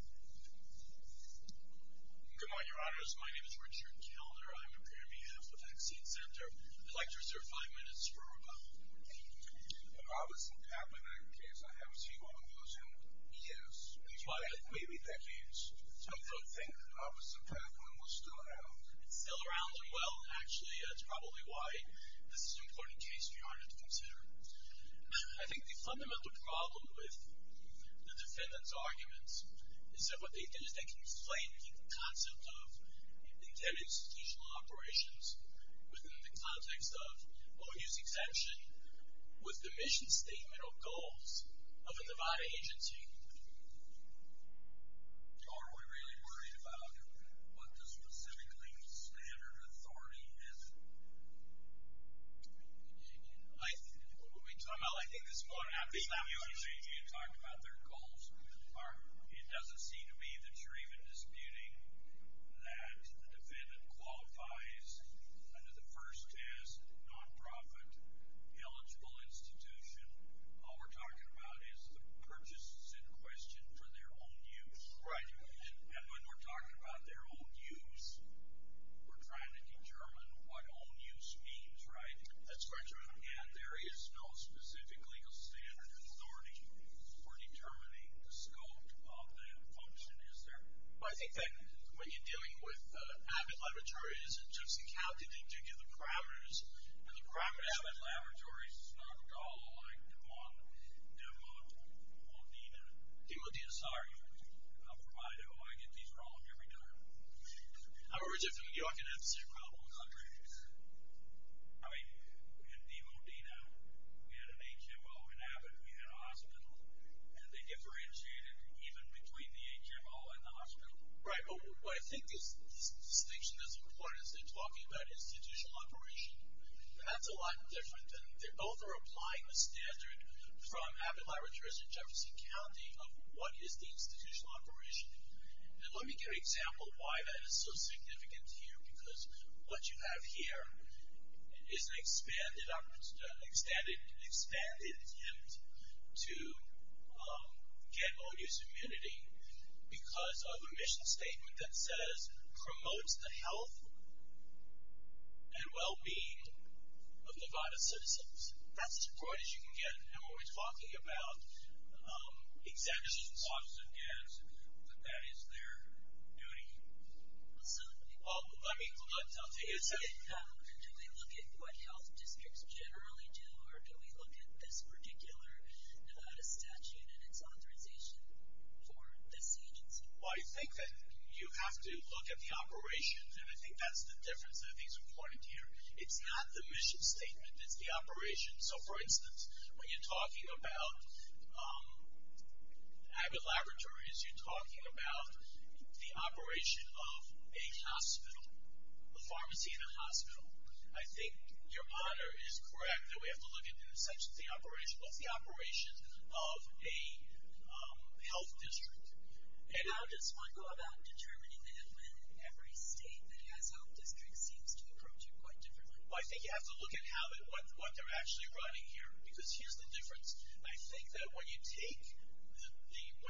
Good morning, your honors. My name is Richard Kilder. I'm a premier of the Vaccine Center. I'd like to reserve five minutes for a rebuttal. An opposite path in that case. I haven't seen one of those in years. Maybe decades. I don't think an opposite path one was still around. Still around? Well, actually, that's probably why this is an important case for your honor to consider. I think the fundamental problem with the defendants' arguments is that what they did is they conflated the concept of intended institutional operations within the context of OU's exemption with the mission statement or goals of a Nevada agency. Are we really worried about what the specifically standard authority is? Well, I think this will have to be you and me to talk about their goals. It doesn't seem to me that you're even disputing that the defendant qualifies under the first test, nonprofit, eligible institution. All we're talking about is the purchase in question for their own use. Right. And when we're talking about their own use, we're trying to determine what own use means, right? That's correct, Your Honor. And there is no specific legal standard authority for determining the scope of that function, is there? Well, I think that when you're dealing with Abbott Laboratories and Judson County, they do give the parameters. And the crime at Abbott Laboratories is not at all like DeModena. DeModena, sorry. I'll provide it. Oh, I get these wrong every time. I wish if you knew, I could answer your problem, Andre. I mean, in DeModena, we had an HMO. In Abbott, we had a hospital. And they differentiated even between the HMO and the hospital. Right. But I think this distinction is important as they're talking about institutional operation. That's a lot different. And they both are applying the standard from Abbott Laboratories and Jefferson County of what is the institutional operation. And let me give you an example of why that is so significant here. Because what you have here is an expanded attempt to get onus immunity because of a mission statement that says, promotes the health and well-being of Nevada citizens. That's as broad as you can get. And when we're talking about exemptions, that is their duty. Do we look at what health districts generally do, or do we look at this particular Nevada statute and its authorization for this agency? Well, I think that you have to look at the operation. And I think that's the difference that I think is important here. It's not the mission statement. It's the operation. So, for instance, when you're talking about Abbott Laboratories, you're talking about the operation of a hospital, a pharmacy in a hospital. I think your honor is correct that we have to look at the operation of a health district. How does one go about determining that when every state that has health districts seems to approach it quite differently? Well, I think you have to look at what they're actually running here. Because here's the difference. I think that when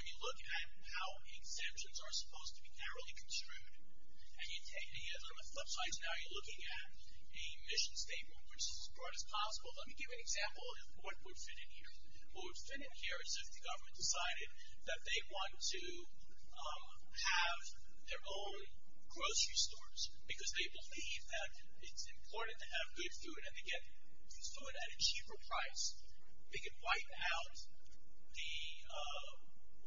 you look at how exemptions are supposed to be narrowly construed, and you take it on the flip side, so now you're looking at a mission statement, which is as broad as possible. Let me give you an example of what would fit in here. What would fit in here is if the government decided that they want to have their own grocery stores because they believe that it's important to have good food and to get food at a cheaper price. They could wipe out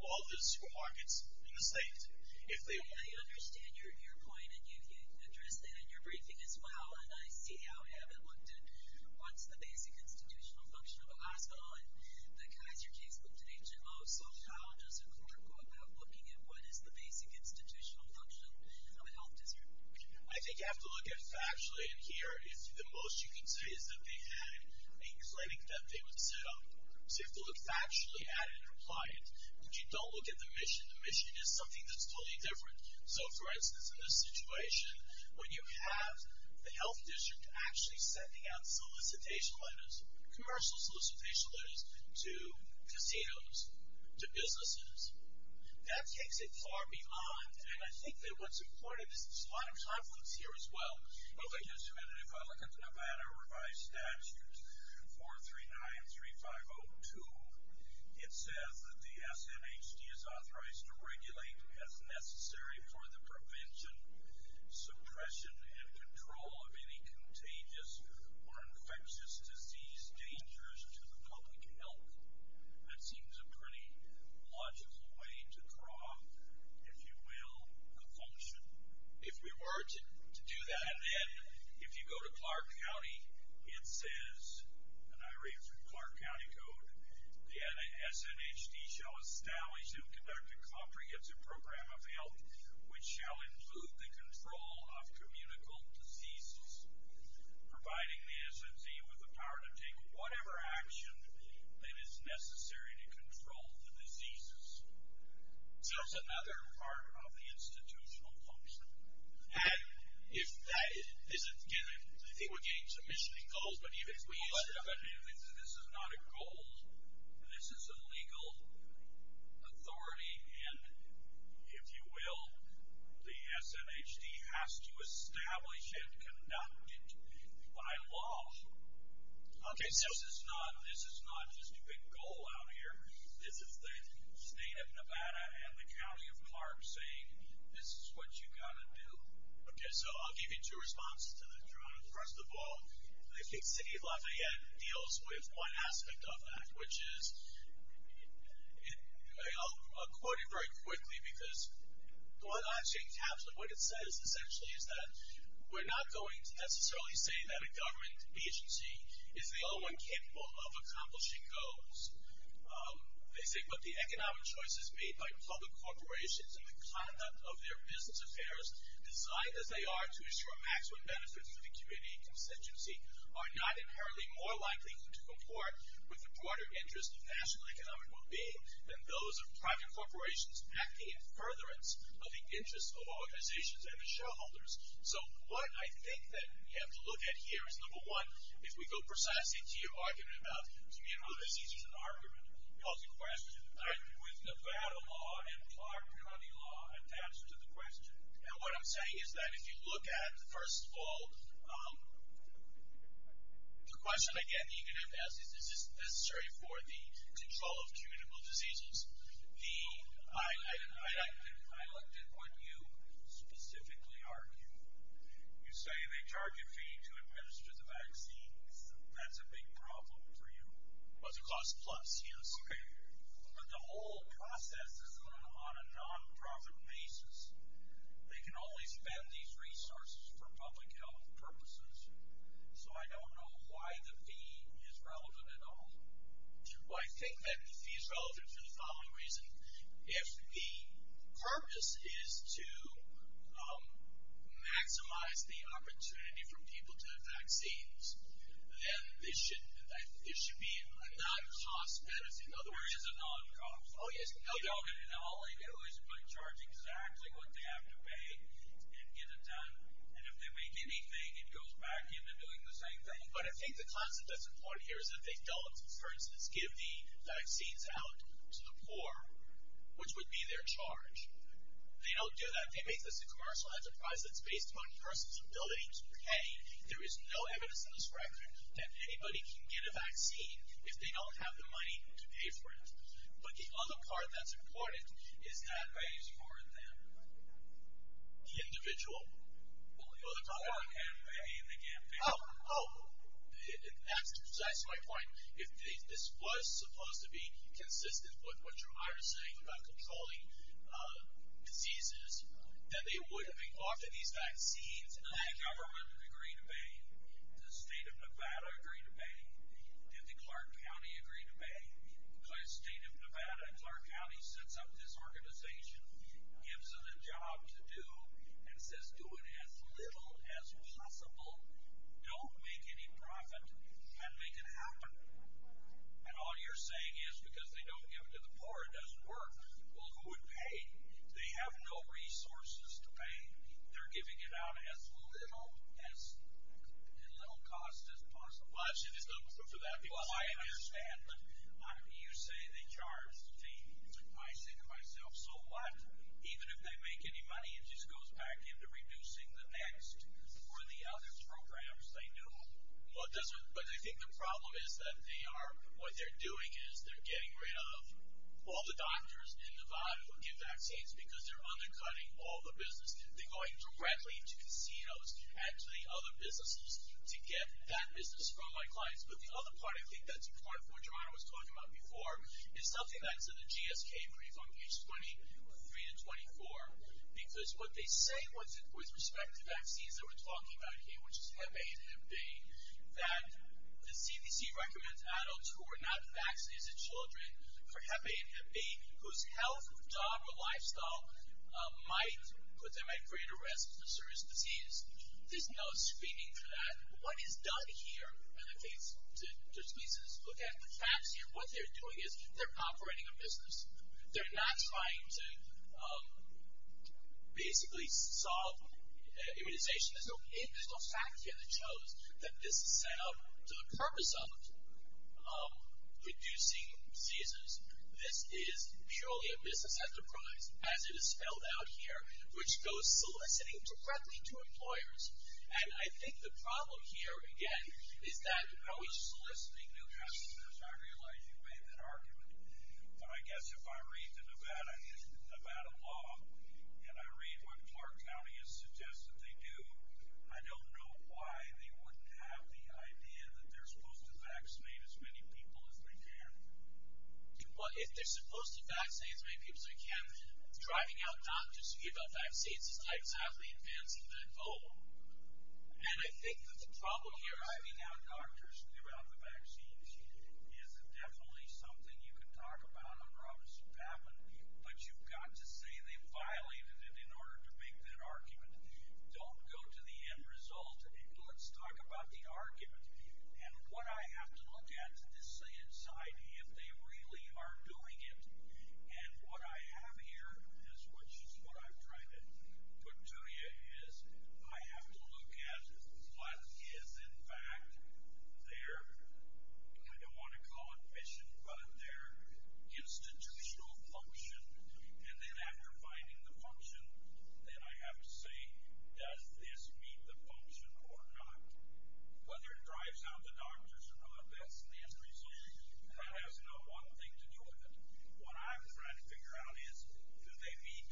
all the supermarkets in the state if they wanted to. I understand your point, and you addressed that in your briefing as well, and I see how Abbott looked at what's the basic institutional function of a hospital, and the Kaiser case looked at HMOs. So how does a court go about looking at what is the basic institutional function of a health district? I think you have to look at factually. And here, the most you can say is that they had a clinic that they would sit on. So you have to look factually at it and apply it. But you don't look at the mission. The mission is something that's totally different. So, for instance, in this situation, when you have the health district actually sending out solicitation letters, commercial solicitation letters, to casinos, to businesses, that takes it far beyond. And I think that what's important is there's a lot of conflicts here as well. Okay. Just a minute. If I look at the Nevada revised statute, 439-3502, it says that the SNHD is authorized to regulate as necessary for the prevention, suppression, and control of any contagious or infectious disease dangerous to the public health. That seems a pretty logical way to draw, if you will, a function. If we were to do that. And then if you go to Clark County, it says, and I read from Clark County Code, the SNHD shall establish and conduct a comprehensive program of health, which shall include the control of communicable diseases, providing the SNHD with the power to take whatever action that is necessary to control the diseases. So it's another part of the institutional function. And if that isn't given, I think we're getting some missioning goals, but even if we use them. This is not a goal. This is a legal authority, and if you will, the SNHD has to establish and conduct it by law. This is not just a big goal out here. This is the state of Nevada and the county of Clark saying this is what you've got to do. Okay. So I'll give you two responses to that. First of all, I think City of Lafayette deals with one aspect of that, which is, I'll quote it very quickly, because what it says essentially is that we're not going to necessarily say that a government agency is the only one capable of accomplishing goals. They say, but the economic choices made by public corporations and the conduct of their business affairs, designed as they are to ensure maximum benefits for the community and constituency, are not inherently more likely to comport with the broader interest of national economic well-being than those of private corporations acting in furtherance of the interests of organizations and the shareholders. So what I think that we have to look at here is, number one, if we go precisely to your argument about, you know, this isn't an argument. It's a question. With Nevada law and Clark County law attached to the question. And what I'm saying is that if you look at, first of all, the question, again, that you're going to have to ask is, is this necessary for the control of communicable diseases? I looked at what you specifically argued. You say they charge a fee to administer the vaccine. That's a big problem for you. Well, it's a cost plus, yes. But the whole process is on a nonprofit basis. They can only spend these resources for public health purposes. So I don't know why the fee is relevant at all. Well, I think that the fee is relevant for the following reason. If the purpose is to maximize the opportunity for people to have vaccines, then this should be a non-cost medicine, which is a non-cost. Oh, yes. All they do is charge exactly what they have to pay and get it done. And if they make anything, it goes back into doing the same thing. But I think the concept that's important here is that they don't, for instance, give the vaccines out to the poor, which would be their charge. They don't do that. They make this a commercial enterprise that's based on a person's ability to pay. I mean, there is no evidence in this record that anybody can get a vaccine if they don't have the money to pay for it. But the other part that's important is that it's for the individual. Oh, that's my point. If this was supposed to be consistent with what you and I were saying about controlling diseases, then they would have been offered these vaccines. Does the government agree to pay? Does the state of Nevada agree to pay? Did the Clark County agree to pay? Because the state of Nevada and Clark County sets up this organization, gives them a job to do, and says do it as little as possible. Don't make any profit and make it happen. And all you're saying is because they don't give it to the poor it doesn't work. Well, who would pay? They have no resources to pay. They're giving it out at as little cost as possible. Well, actually there's no proof of that. Well, I understand, but you say they charge fees. I say to myself, so what? Even if they make any money, it just goes back into reducing the next or the other programs they do. But I think the problem is that what they're doing is they're getting rid of all the doctors in Nevada who get vaccines because they're undercutting all the business. They're going directly to casinos and to the other businesses to get that business from my clients. But the other part I think that's important, for what Geronimo was talking about before, is something that's in the GSK brief on page 23 to 24, because what they say with respect to vaccines that we're talking about here, which is hep A and hep B, that the CDC recommends adults who are not vaccinated children for hep A vaccines put them at greater risk for serious disease. There's no screening for that. What is done here, and this leads us to look at the facts here, what they're doing is they're operating a business. They're not trying to basically solve immunization. There's no fact here that shows that this is set up for the purpose of reducing diseases. This is purely a business enterprise as it is spelled out here, which goes soliciting directly to employers. And I think the problem here, again, is that I was soliciting new customers. I realize you made that argument, but I guess if I read the Nevada law and I read what Clark County has suggested they do, I don't know why they wouldn't have the idea that they're supposed to vaccinate as many people as they can. Driving out doctors to give out vaccines is not exactly advancing that goal. And I think that the problem here is- Driving out doctors to give out the vaccines is definitely something you can talk about. I promise you it's happened. But you've got to say they violated it in order to make that argument. Don't go to the end result. Let's talk about the argument. And what I have to look at to say inside, if they really are doing it and what I have here, which is what I'm trying to put to you, is I have to look at what is in fact their- I don't want to call it mission, but their institutional function. And then after finding the function, then I have to say, does this meet the function or not? Whether it drives out the doctors or not, that's the end result. That has no one thing to do with it. What I'm trying to figure out is, do they meet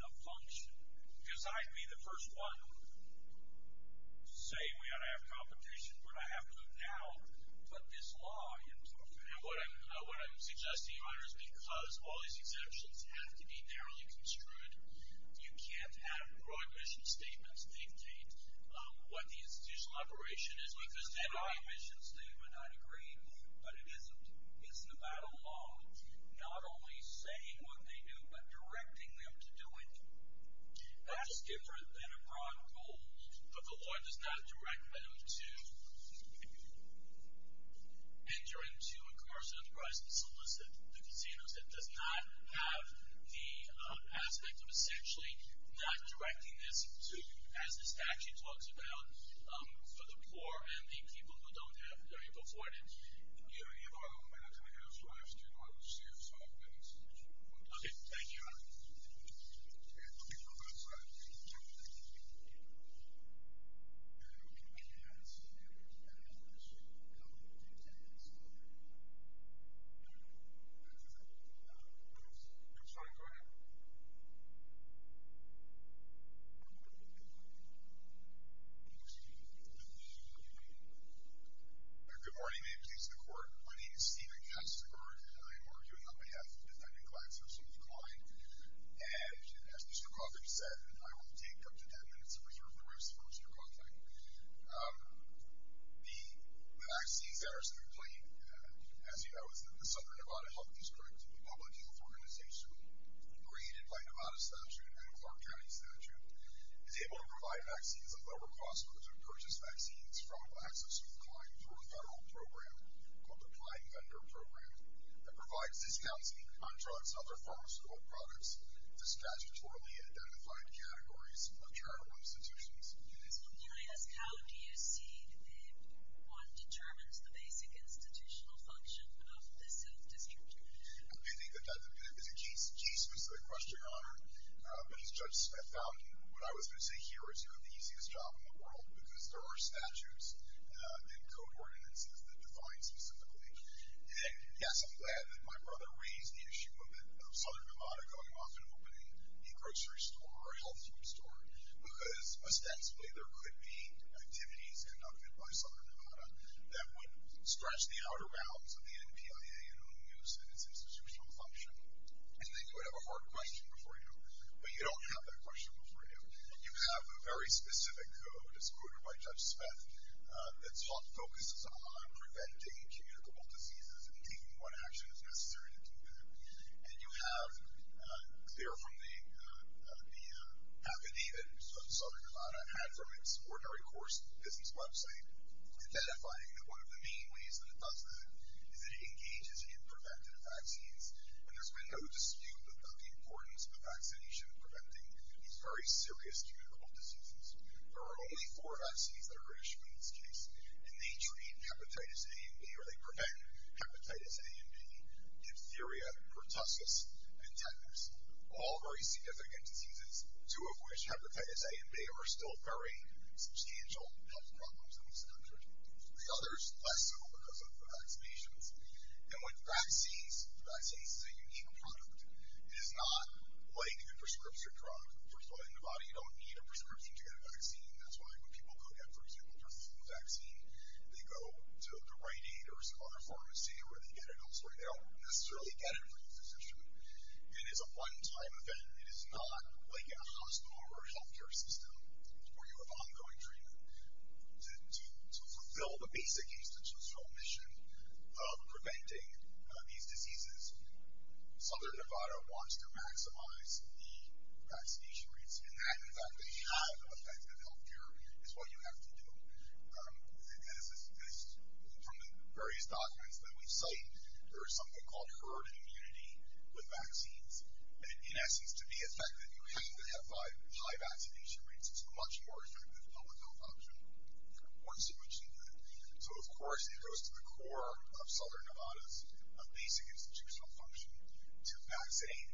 the function? Because I'd be the first one to say we ought to have competition, but I have to now put this law into effect. And what I'm suggesting here is because all these exemptions have to be narrowly construed, you can't have broad mission statements dictate what the institutional operation is. Because in a mission statement, I'd agree, but it isn't. It's Nevada law, not only saying what they do, but directing them to do it. That's different than a broad goal. But the law does not direct them to enter into a commercial enterprise to solicit the casinos. It does not have the aspect of essentially not directing this to, as the statute talks about, for the poor and the people who don't have very afforded. I'm sorry. Go ahead. Good morning. My name is Steven Kastenberg, and I am arguing on behalf of the defendant, GlaxoSmithKline. And as Mr. Coughlin said, I will take up to 10 minutes to reserve the rest for Mr. Coughlin. The vaccines that are simply, as you know, it's the Southern Nevada Health District, the public health organization created by Nevada statute and Clark County statute, is able to provide vaccines at lower cost, to purchase vaccines from GlaxoSmithKline through a federal program called the Kline Vendor Program, that provides discounts and contracts, other pharmaceutical products, to statutorily identified categories of charitable institutions. Can I ask, how do you see if one determines the basic institutional function of the South District? I think that that is a key specific question, Your Honor. But as Judge Smith found, what I was going to say here is you have the easiest job in the world, because there are statutes and code ordinances that define specifically. And yes, I'm glad that my brother raised the issue of Southern Nevada going off and opening a grocery store or a health food store, because ostensibly there could be activities conducted by Southern Nevada that would stretch the outer bounds of the NPIA and OMIUS and its institutional function. And then you would have a hard question before you, but you don't have that question before you. You have a very specific code, as quoted by Judge Smith, that focuses on preventing communicable diseases and taking what action is necessary to do that. And you have, clear from the academy that Southern Nevada had from its ordinary course business website, identifying that one of the main ways that it does that is it engages in preventative vaccines. And there's been no dispute about the importance of vaccination preventing these very serious communicable diseases. There are only four vaccines that are British in this case, and they treat hepatitis A and B, or they prevent hepatitis A and B, diphtheria, pertussis, and tetanus, all very significant diseases, two of which, hepatitis A and B, are still very substantial health problems in this country. The others, less so because of vaccinations. And with vaccines, vaccines is a unique product. It is not like a prescription drug. First of all, in Nevada you don't need a prescription to get a vaccine. That's why when people go get, for example, their flu vaccine, they go to the right aid or some other pharmacy where they get it elsewhere. They don't necessarily get it from the physician. And it's a one-time event. It is not like a hospital or a healthcare system where you have ongoing treatment. To fulfill the basic institutional mission of preventing these diseases Southern Nevada wants to maximize the vaccination rates. And that, in fact, to have effective healthcare is what you have to do. As from the various documents that we cite, there is something called herd immunity with vaccines. And in essence, to be effective, you have to have high vaccination rates. It's a much more effective public health option. Once you mention that. So of course it goes to the core of Southern Nevada's basic institutional function to vaccine,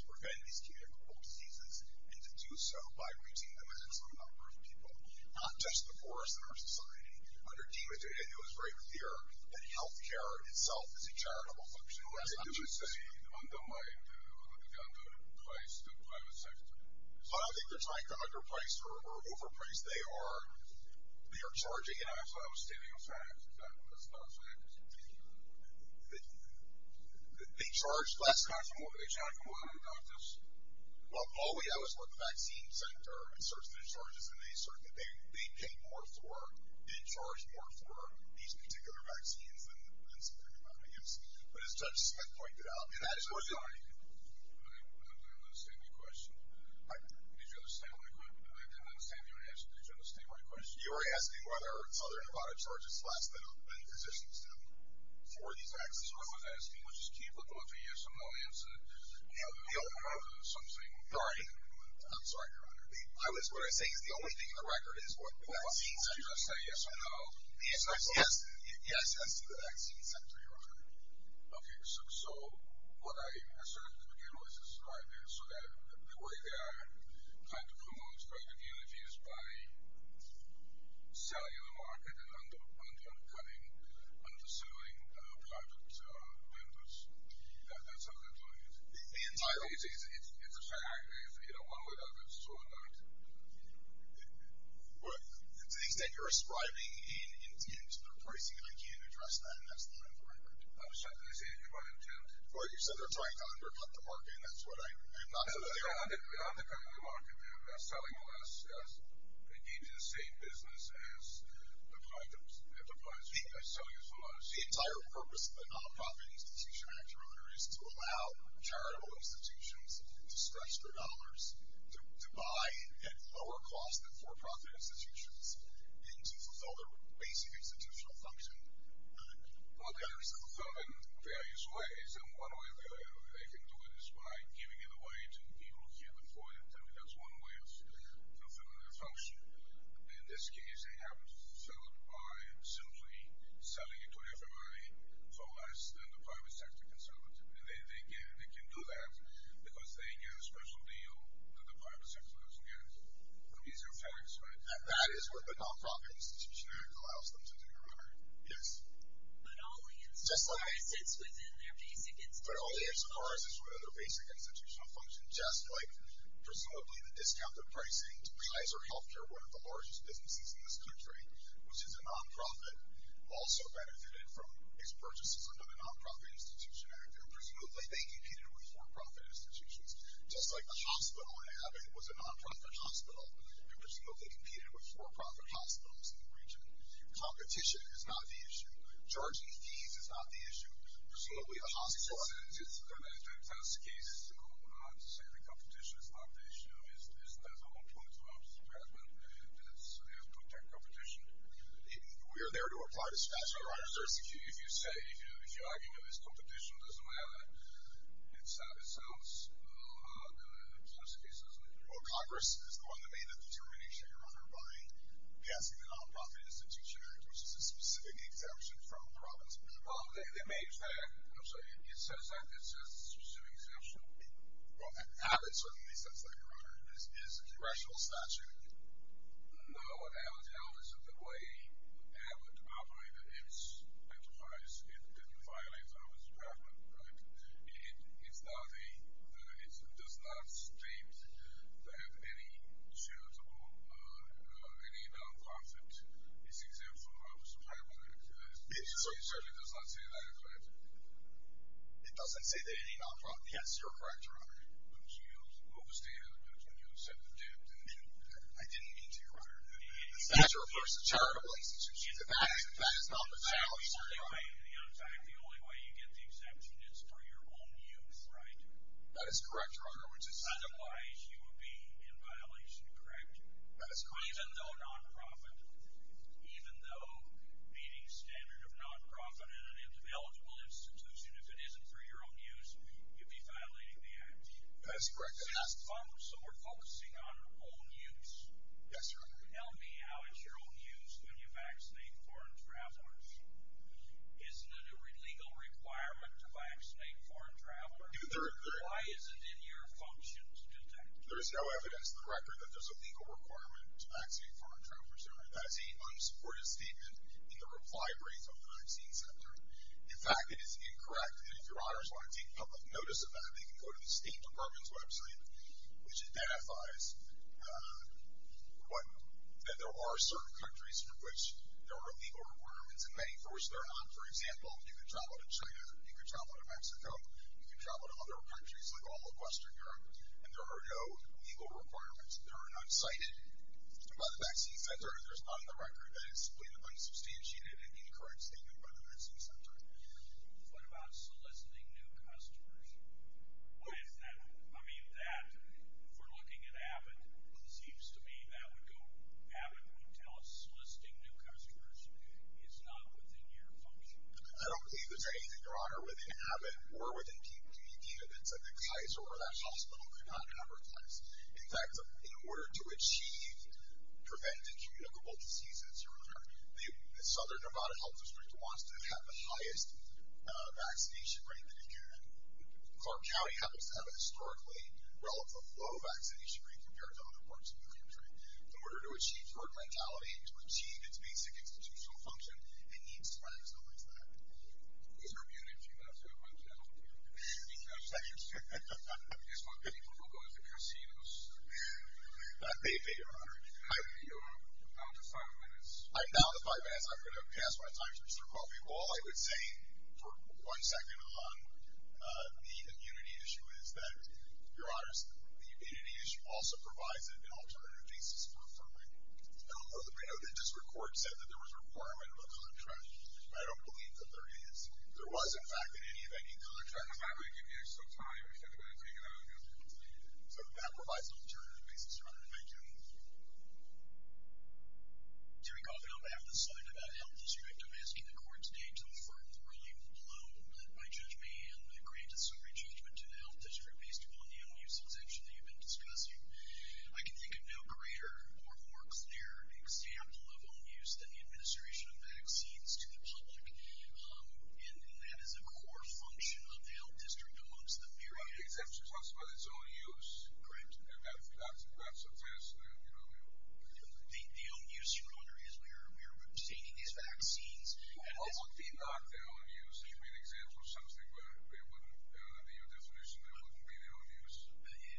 to prevent these communicable diseases, and to do so by reaching the maximum number of people, not just the poorest in our society. Under Demetrius, it was very clear that healthcare itself is a charitable function. That's what I'm trying to say. Undermined, the underpriced private sector. I don't think they're trying to underpriced or overpriced. they are charging enough. I thought I was stating a fact. That was not a fact. They charge less. They charge more than doctors. Well, Paul, we always look at the vaccine center and search through charges, and they search. They pay more for, they charge more for these particular vaccines. But as Judge Smith pointed out. I didn't understand your question. Did you understand my question? You were asking whether Southern Nevada charges less than physicians do. For these vaccines. That's what I was asking, which is keep looking for yes or no answer. I'm sorry, Your Honor. I was, what I'm saying is the only thing in the record is what vaccines do. Did you just say yes or no? Yes. Yes. Yes, to the vaccine center, Your Honor. Okay. So, what I asserted at the beginning of this is right there, so that the way they are kind of promoted by the communities, by selling in the market, and undercutting, undersuing private vendors. That's how they're doing it. The entire. It's a fact. You know, one way or the other, it's true or not. Well, to the extent you're ascribing in terms of their pricing, I can't address that, and that's not in the record. I'm sorry, did I say anything about intent? Well, you said they're trying to undercut the market, and that's what I, I'm not saying. No, they're not undercutting the market. They're selling less. The entire purpose of the Nonprofit Institution Act, Your Honor, is to allow charitable institutions to stretch their dollars, to buy at lower cost than for-profit institutions, and to fulfill their basic institutional function. Well, there is a fulfillment in various ways, and one way they can do it is by giving it away to people who can't afford it. I mean, that's one way of fulfilling it. In this case, they have it fulfilled by simply selling it to everybody for less than the private sector can sell it to. And they can do that because they get a special deal that the private sector doesn't get. These are facts, right? That is what the Nonprofit Institution Act allows them to do, Your Honor. Yes. But only as far as it's within their basic institutional function. But only as far as it's within their basic institutional function, just like, presumably the discounted pricing to Kaiser Healthcare, one of the largest businesses in this country, which is a non-profit, also benefited from its purchases under the Nonprofit Institution Act. And presumably they competed with for-profit institutions. Just like the hospital in Abbott was a non-profit hospital, it presumably competed with for-profit hospitals in the region. Competition is not the issue. Charging fees is not the issue. Presumably the hospital. That's the case. I'm not saying the competition is not the issue. That's a whole point of the Justice Department, and it's to protect competition. We are there to apply the statute. Your Honor, if you say, if you're arguing that it's competition, it doesn't matter, it sounds, the Justice Department. Well, Congress is the one that made the determination, Your Honor, by passing the Nonprofit Institution Act, which is a specific exemption from the Robinson Act. Well, it makes that, I'm sorry, it says that, it says it's a specific exemption. Well, Abbott certainly says that, Your Honor. It's a congressional statute. No, Abbott, the way Abbott operated its enterprise, it violates the Office of Government, right? It's not a, it does not state that any charitable, any non-profit is exempt from the Office of Government. It certainly does not say that, Your Honor. It doesn't say that any non-profit, yes, you're correct, Your Honor. But you overstated it, when you said the debt, and I didn't mean to, Your Honor. The statute refers to charitable institutions. That is not the challenge, Your Honor. In fact, the only way you get the exemption is for your own use, right? That is correct, Your Honor, which is. Otherwise, you would be in violation, correct? That is correct. Even though non-profit, even though meeting standard of non-profit at an eligible institution, if it isn't for your own use, you'd be violating the act. That is correct, Your Honor. So we're focusing on own use. Yes, Your Honor. Tell me how it's your own use when you vaccinate foreign travelers. Isn't it a legal requirement to vaccinate foreign travelers? Why isn't it in your functions to do that? There is no evidence in the record that there's a legal requirement to vaccinate foreign travelers, Your Honor. That is a unsupported statement in the reply brief of the vaccine center. In fact, it is incorrect, and if Your Honors want to take public notice of that, they can go to the State Department's website, which identifies that there are certain countries in which there are legal requirements, and many for which there are not. For example, you can travel to China, you can travel to Mexico, you can travel to other countries like all of Western Europe, and there are no legal requirements. There are none cited by the vaccine center, and there's none in the record. That is split among substantiated and incorrect statement by the vaccine center. What about soliciting new customers? Why is that? I mean, that, if we're looking at Abbott, it seems to me that would go, Abbott would tell us soliciting new customers is not within your function. I don't believe there's anything, Your Honor, within Abbott or within P.P.D. that says that Kaiser or that hospital could not advertise. In fact, in order to achieve prevent and communicable diseases, Your Honor, the Southern Nevada Health District wants to have the highest vaccination rate that it can. Clark County happens to have a historically relatively low vaccination rate compared to other parts of the country. In order to achieve herd mentality, to achieve its basic institutional function, it needs to advertise that. Those are muted. Do you want to say a bunch now? Thank you. I guess what people will go to is the casinos. They may, Your Honor. You're down to five minutes. I'm down to five minutes. I'm going to pass my time to Mr. Coffey. All I would say, for one second, on the immunity issue is that, Your Honor, the immunity issue also provides an alternative basis for affirming. I don't know that this report said that there was a requirement of a contract. I don't believe that there is. There was, in fact, in any of any contract. I'm not going to give you extra time. If you're going to take it out, you'll have to continue. So that provides an alternative basis, Your Honor. Thank you. Terry Coffey, on behalf of the Southern Nevada Health District, I'm asking the court today to affirm the ruling below that my judge may and may grant a summary judgment to the health district based upon the own use exemption that you've been discussing. And that is a core function of the health district amongst the various exemptions. The exemption talks about its own use. Correct. And that's a test. The own use, Your Honor, is where we're obtaining these vaccines. Well, it would be not their own use. It would be an example of something where it wouldn't, under your definition, it wouldn't be their own use.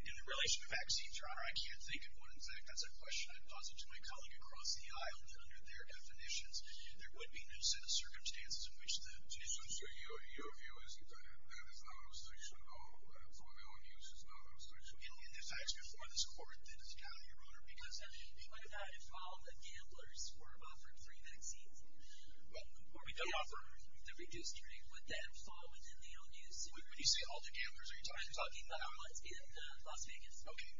In relation to vaccines, Your Honor, I can't think of one. In fact, that's a question I'd posit to my colleague across the aisle that under their definitions, there would be no set of circumstances in which the... So, Your view is that that is not an obstruction at all? For the own use, it's not an obstruction at all? In fact, before this court, it's not, Your Honor, because... What about if all the gamblers were offered free vaccines? Well, we could offer... Or we could offer the redistricting. Would that fall within the own use? When you say all the gamblers, are you talking about... I'm talking about the ones in Las Vegas. Okay.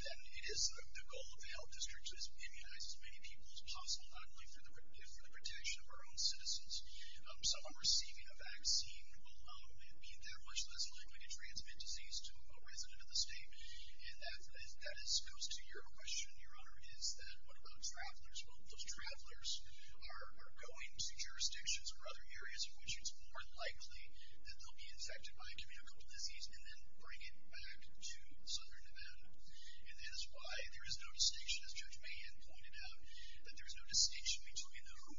Then, it is the goal of the health district to immunize as many people as possible, not only for the protection of our own citizens. Someone receiving a vaccine will be that much less likely to transmit disease to a resident of the state. And that goes to your question, Your Honor, is that what about travelers? Well, those travelers are going to jurisdictions or other areas in which it's more likely that they'll be infected by a communicable disease and then bring it back to Southern Nevada. And that is why there is no distinction, as Judge Mahan pointed out, that there is no distinction between who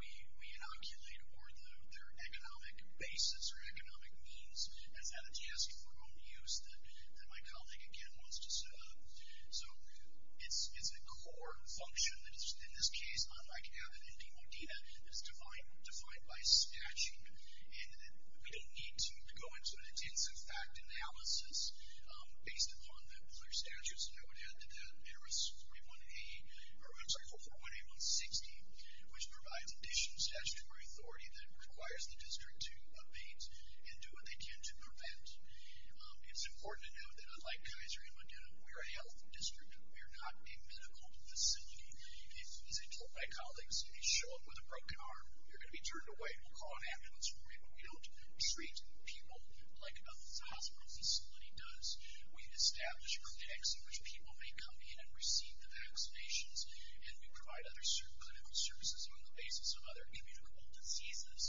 we inoculate or their economic basis or economic means. That's not a task of our own use that my colleague, again, wants to set up. So it's a core function that is, in this case, unlike Abbott and Demodena, that is defined by statute. And we don't need to go into an intensive fact analysis based upon the other statutes. And I would add to that, there is 41A, or I'm sorry, 418160, which provides additional statutory authority that requires the district to abate and do what they can to prevent. It's important to note that unlike Kaiser and Demodena, we are a health district. We are not a medical facility. As I told my colleagues, if you show up with a broken arm, you're going to be turned away. We'll call an ambulance for you, but we don't treat people like a hospital facility does. We establish contexts in which people may come in and receive the vaccinations, and we provide other clinical services on the basis of other immutable diseases.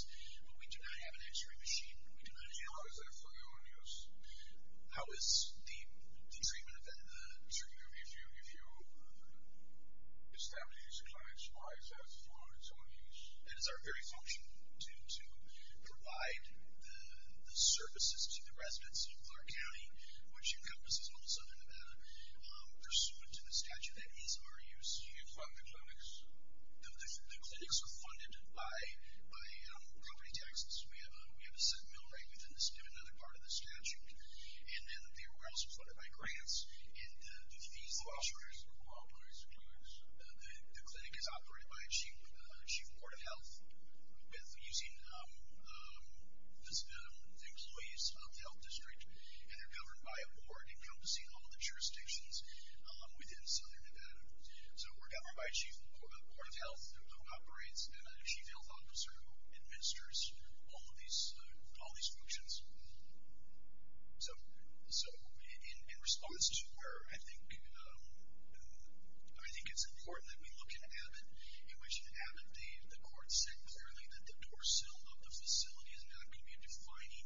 But we do not have an x-ray machine. We do not have... How is that for your own use? How is the treatment of that? Certainly, if you establish a client's life as for its own use. It is our very function to provide the services to the residents of Clark County, which encompasses all of Southern Nevada. Pursuant to the statute, that is our use. Do you fund the clinics? The clinics are funded by property taxes. We have a set mill rate within another part of the statute. And then we're also funded by grants and the fees. Who operates the clinics? The clinic is operated by the Chief of the Board of Health, using the employees of the health district and they're governed by a board encompassing all of the jurisdictions within Southern Nevada. So we're governed by a Chief of the Board of Health who operates and a Chief Health Officer who administers all of these functions. So in response to where I think it's important that we look in Abbott, in which in Abbott the court said clearly that the door sill of the facility is not going to be a defining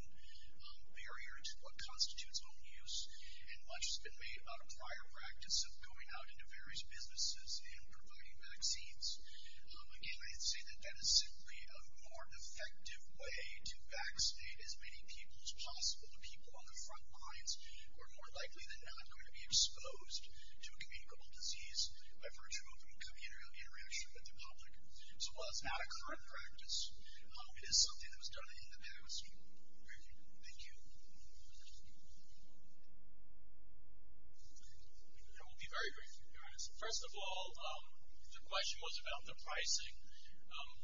barrier to what constitutes own use and much has been made about a prior practice of going out into various businesses and providing vaccines. Again, I'd say that that is simply a more effective way to vaccinate as many people as possible, the people on the front lines who are more likely than not going to be exposed to a communicable disease by virtue of an interaction with the public. So while it's not a current practice, it is something that was done in the past. Thank you. I will be very brief, to be honest. First of all, the question was about the pricing.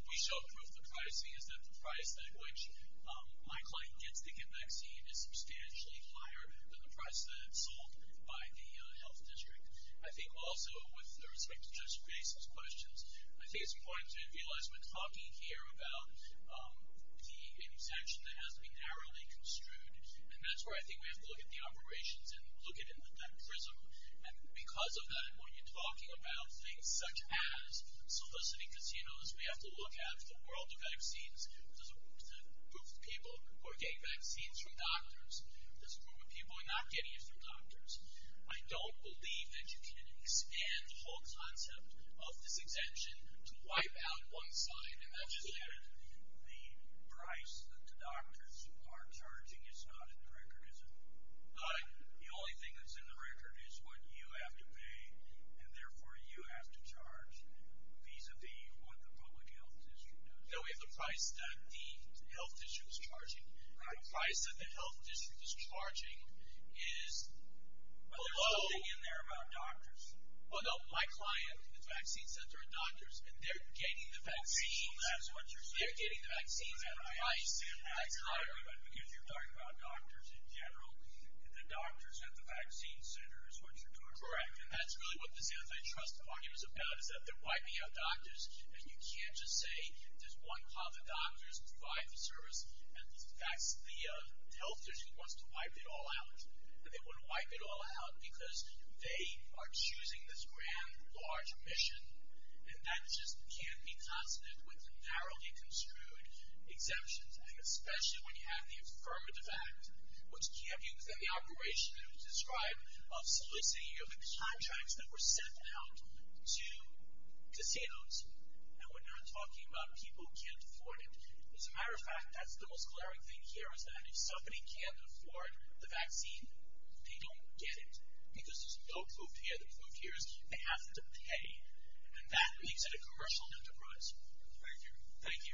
We showed proof the pricing is that the price at which my client gets to get vaccine is substantially higher than the price that it's sold by the health district. I think also with respect to Judge Grace's questions, I think it's important to realize we're talking here about the exemption that has to be narrowly construed, and that's where I think we have to look at the operations and look at that prism. And because of that, when you're talking about things such as soliciting casinos, we have to look at the world of vaccines. There's a group of people who are getting vaccines from doctors. I don't believe that you can expand the whole concept of this exemption to wipe out one side, and that's just it. The price that the doctors are charging is not in the record, is it? The only thing that's in the record is what you have to pay, and therefore you have to charge vis-à-vis what the public health district does. No, we have the price that the health district is charging. The price that the health district is charging is below. But there's something in there about doctors. Well, no, my client, the vaccine center, are doctors, and they're getting the vaccines at a price that's higher. Because you're talking about doctors in general, and the doctors at the vaccine center is what you're talking about. Correct, and that's really what this anti-trust argument is about, is that they're wiping out doctors, and you can't just say, there's one called the doctors who provide the service, and that's the health district who wants to wipe it all out. And they want to wipe it all out because they are choosing this grand, large mission, and that just can't be consonant with narrowly construed exemptions, and especially when you have the Affirmative Act, which can't be within the operation that was described of soliciting the contracts that were sent out to casinos. And we're not talking about people who can't afford it. As a matter of fact, that's the most glaring thing here, is that if somebody can't afford the vaccine, they don't get it. Because there's no proof here. The proof here is they have to pay. And that makes it a commercial enterprise. Thank you. Thank you.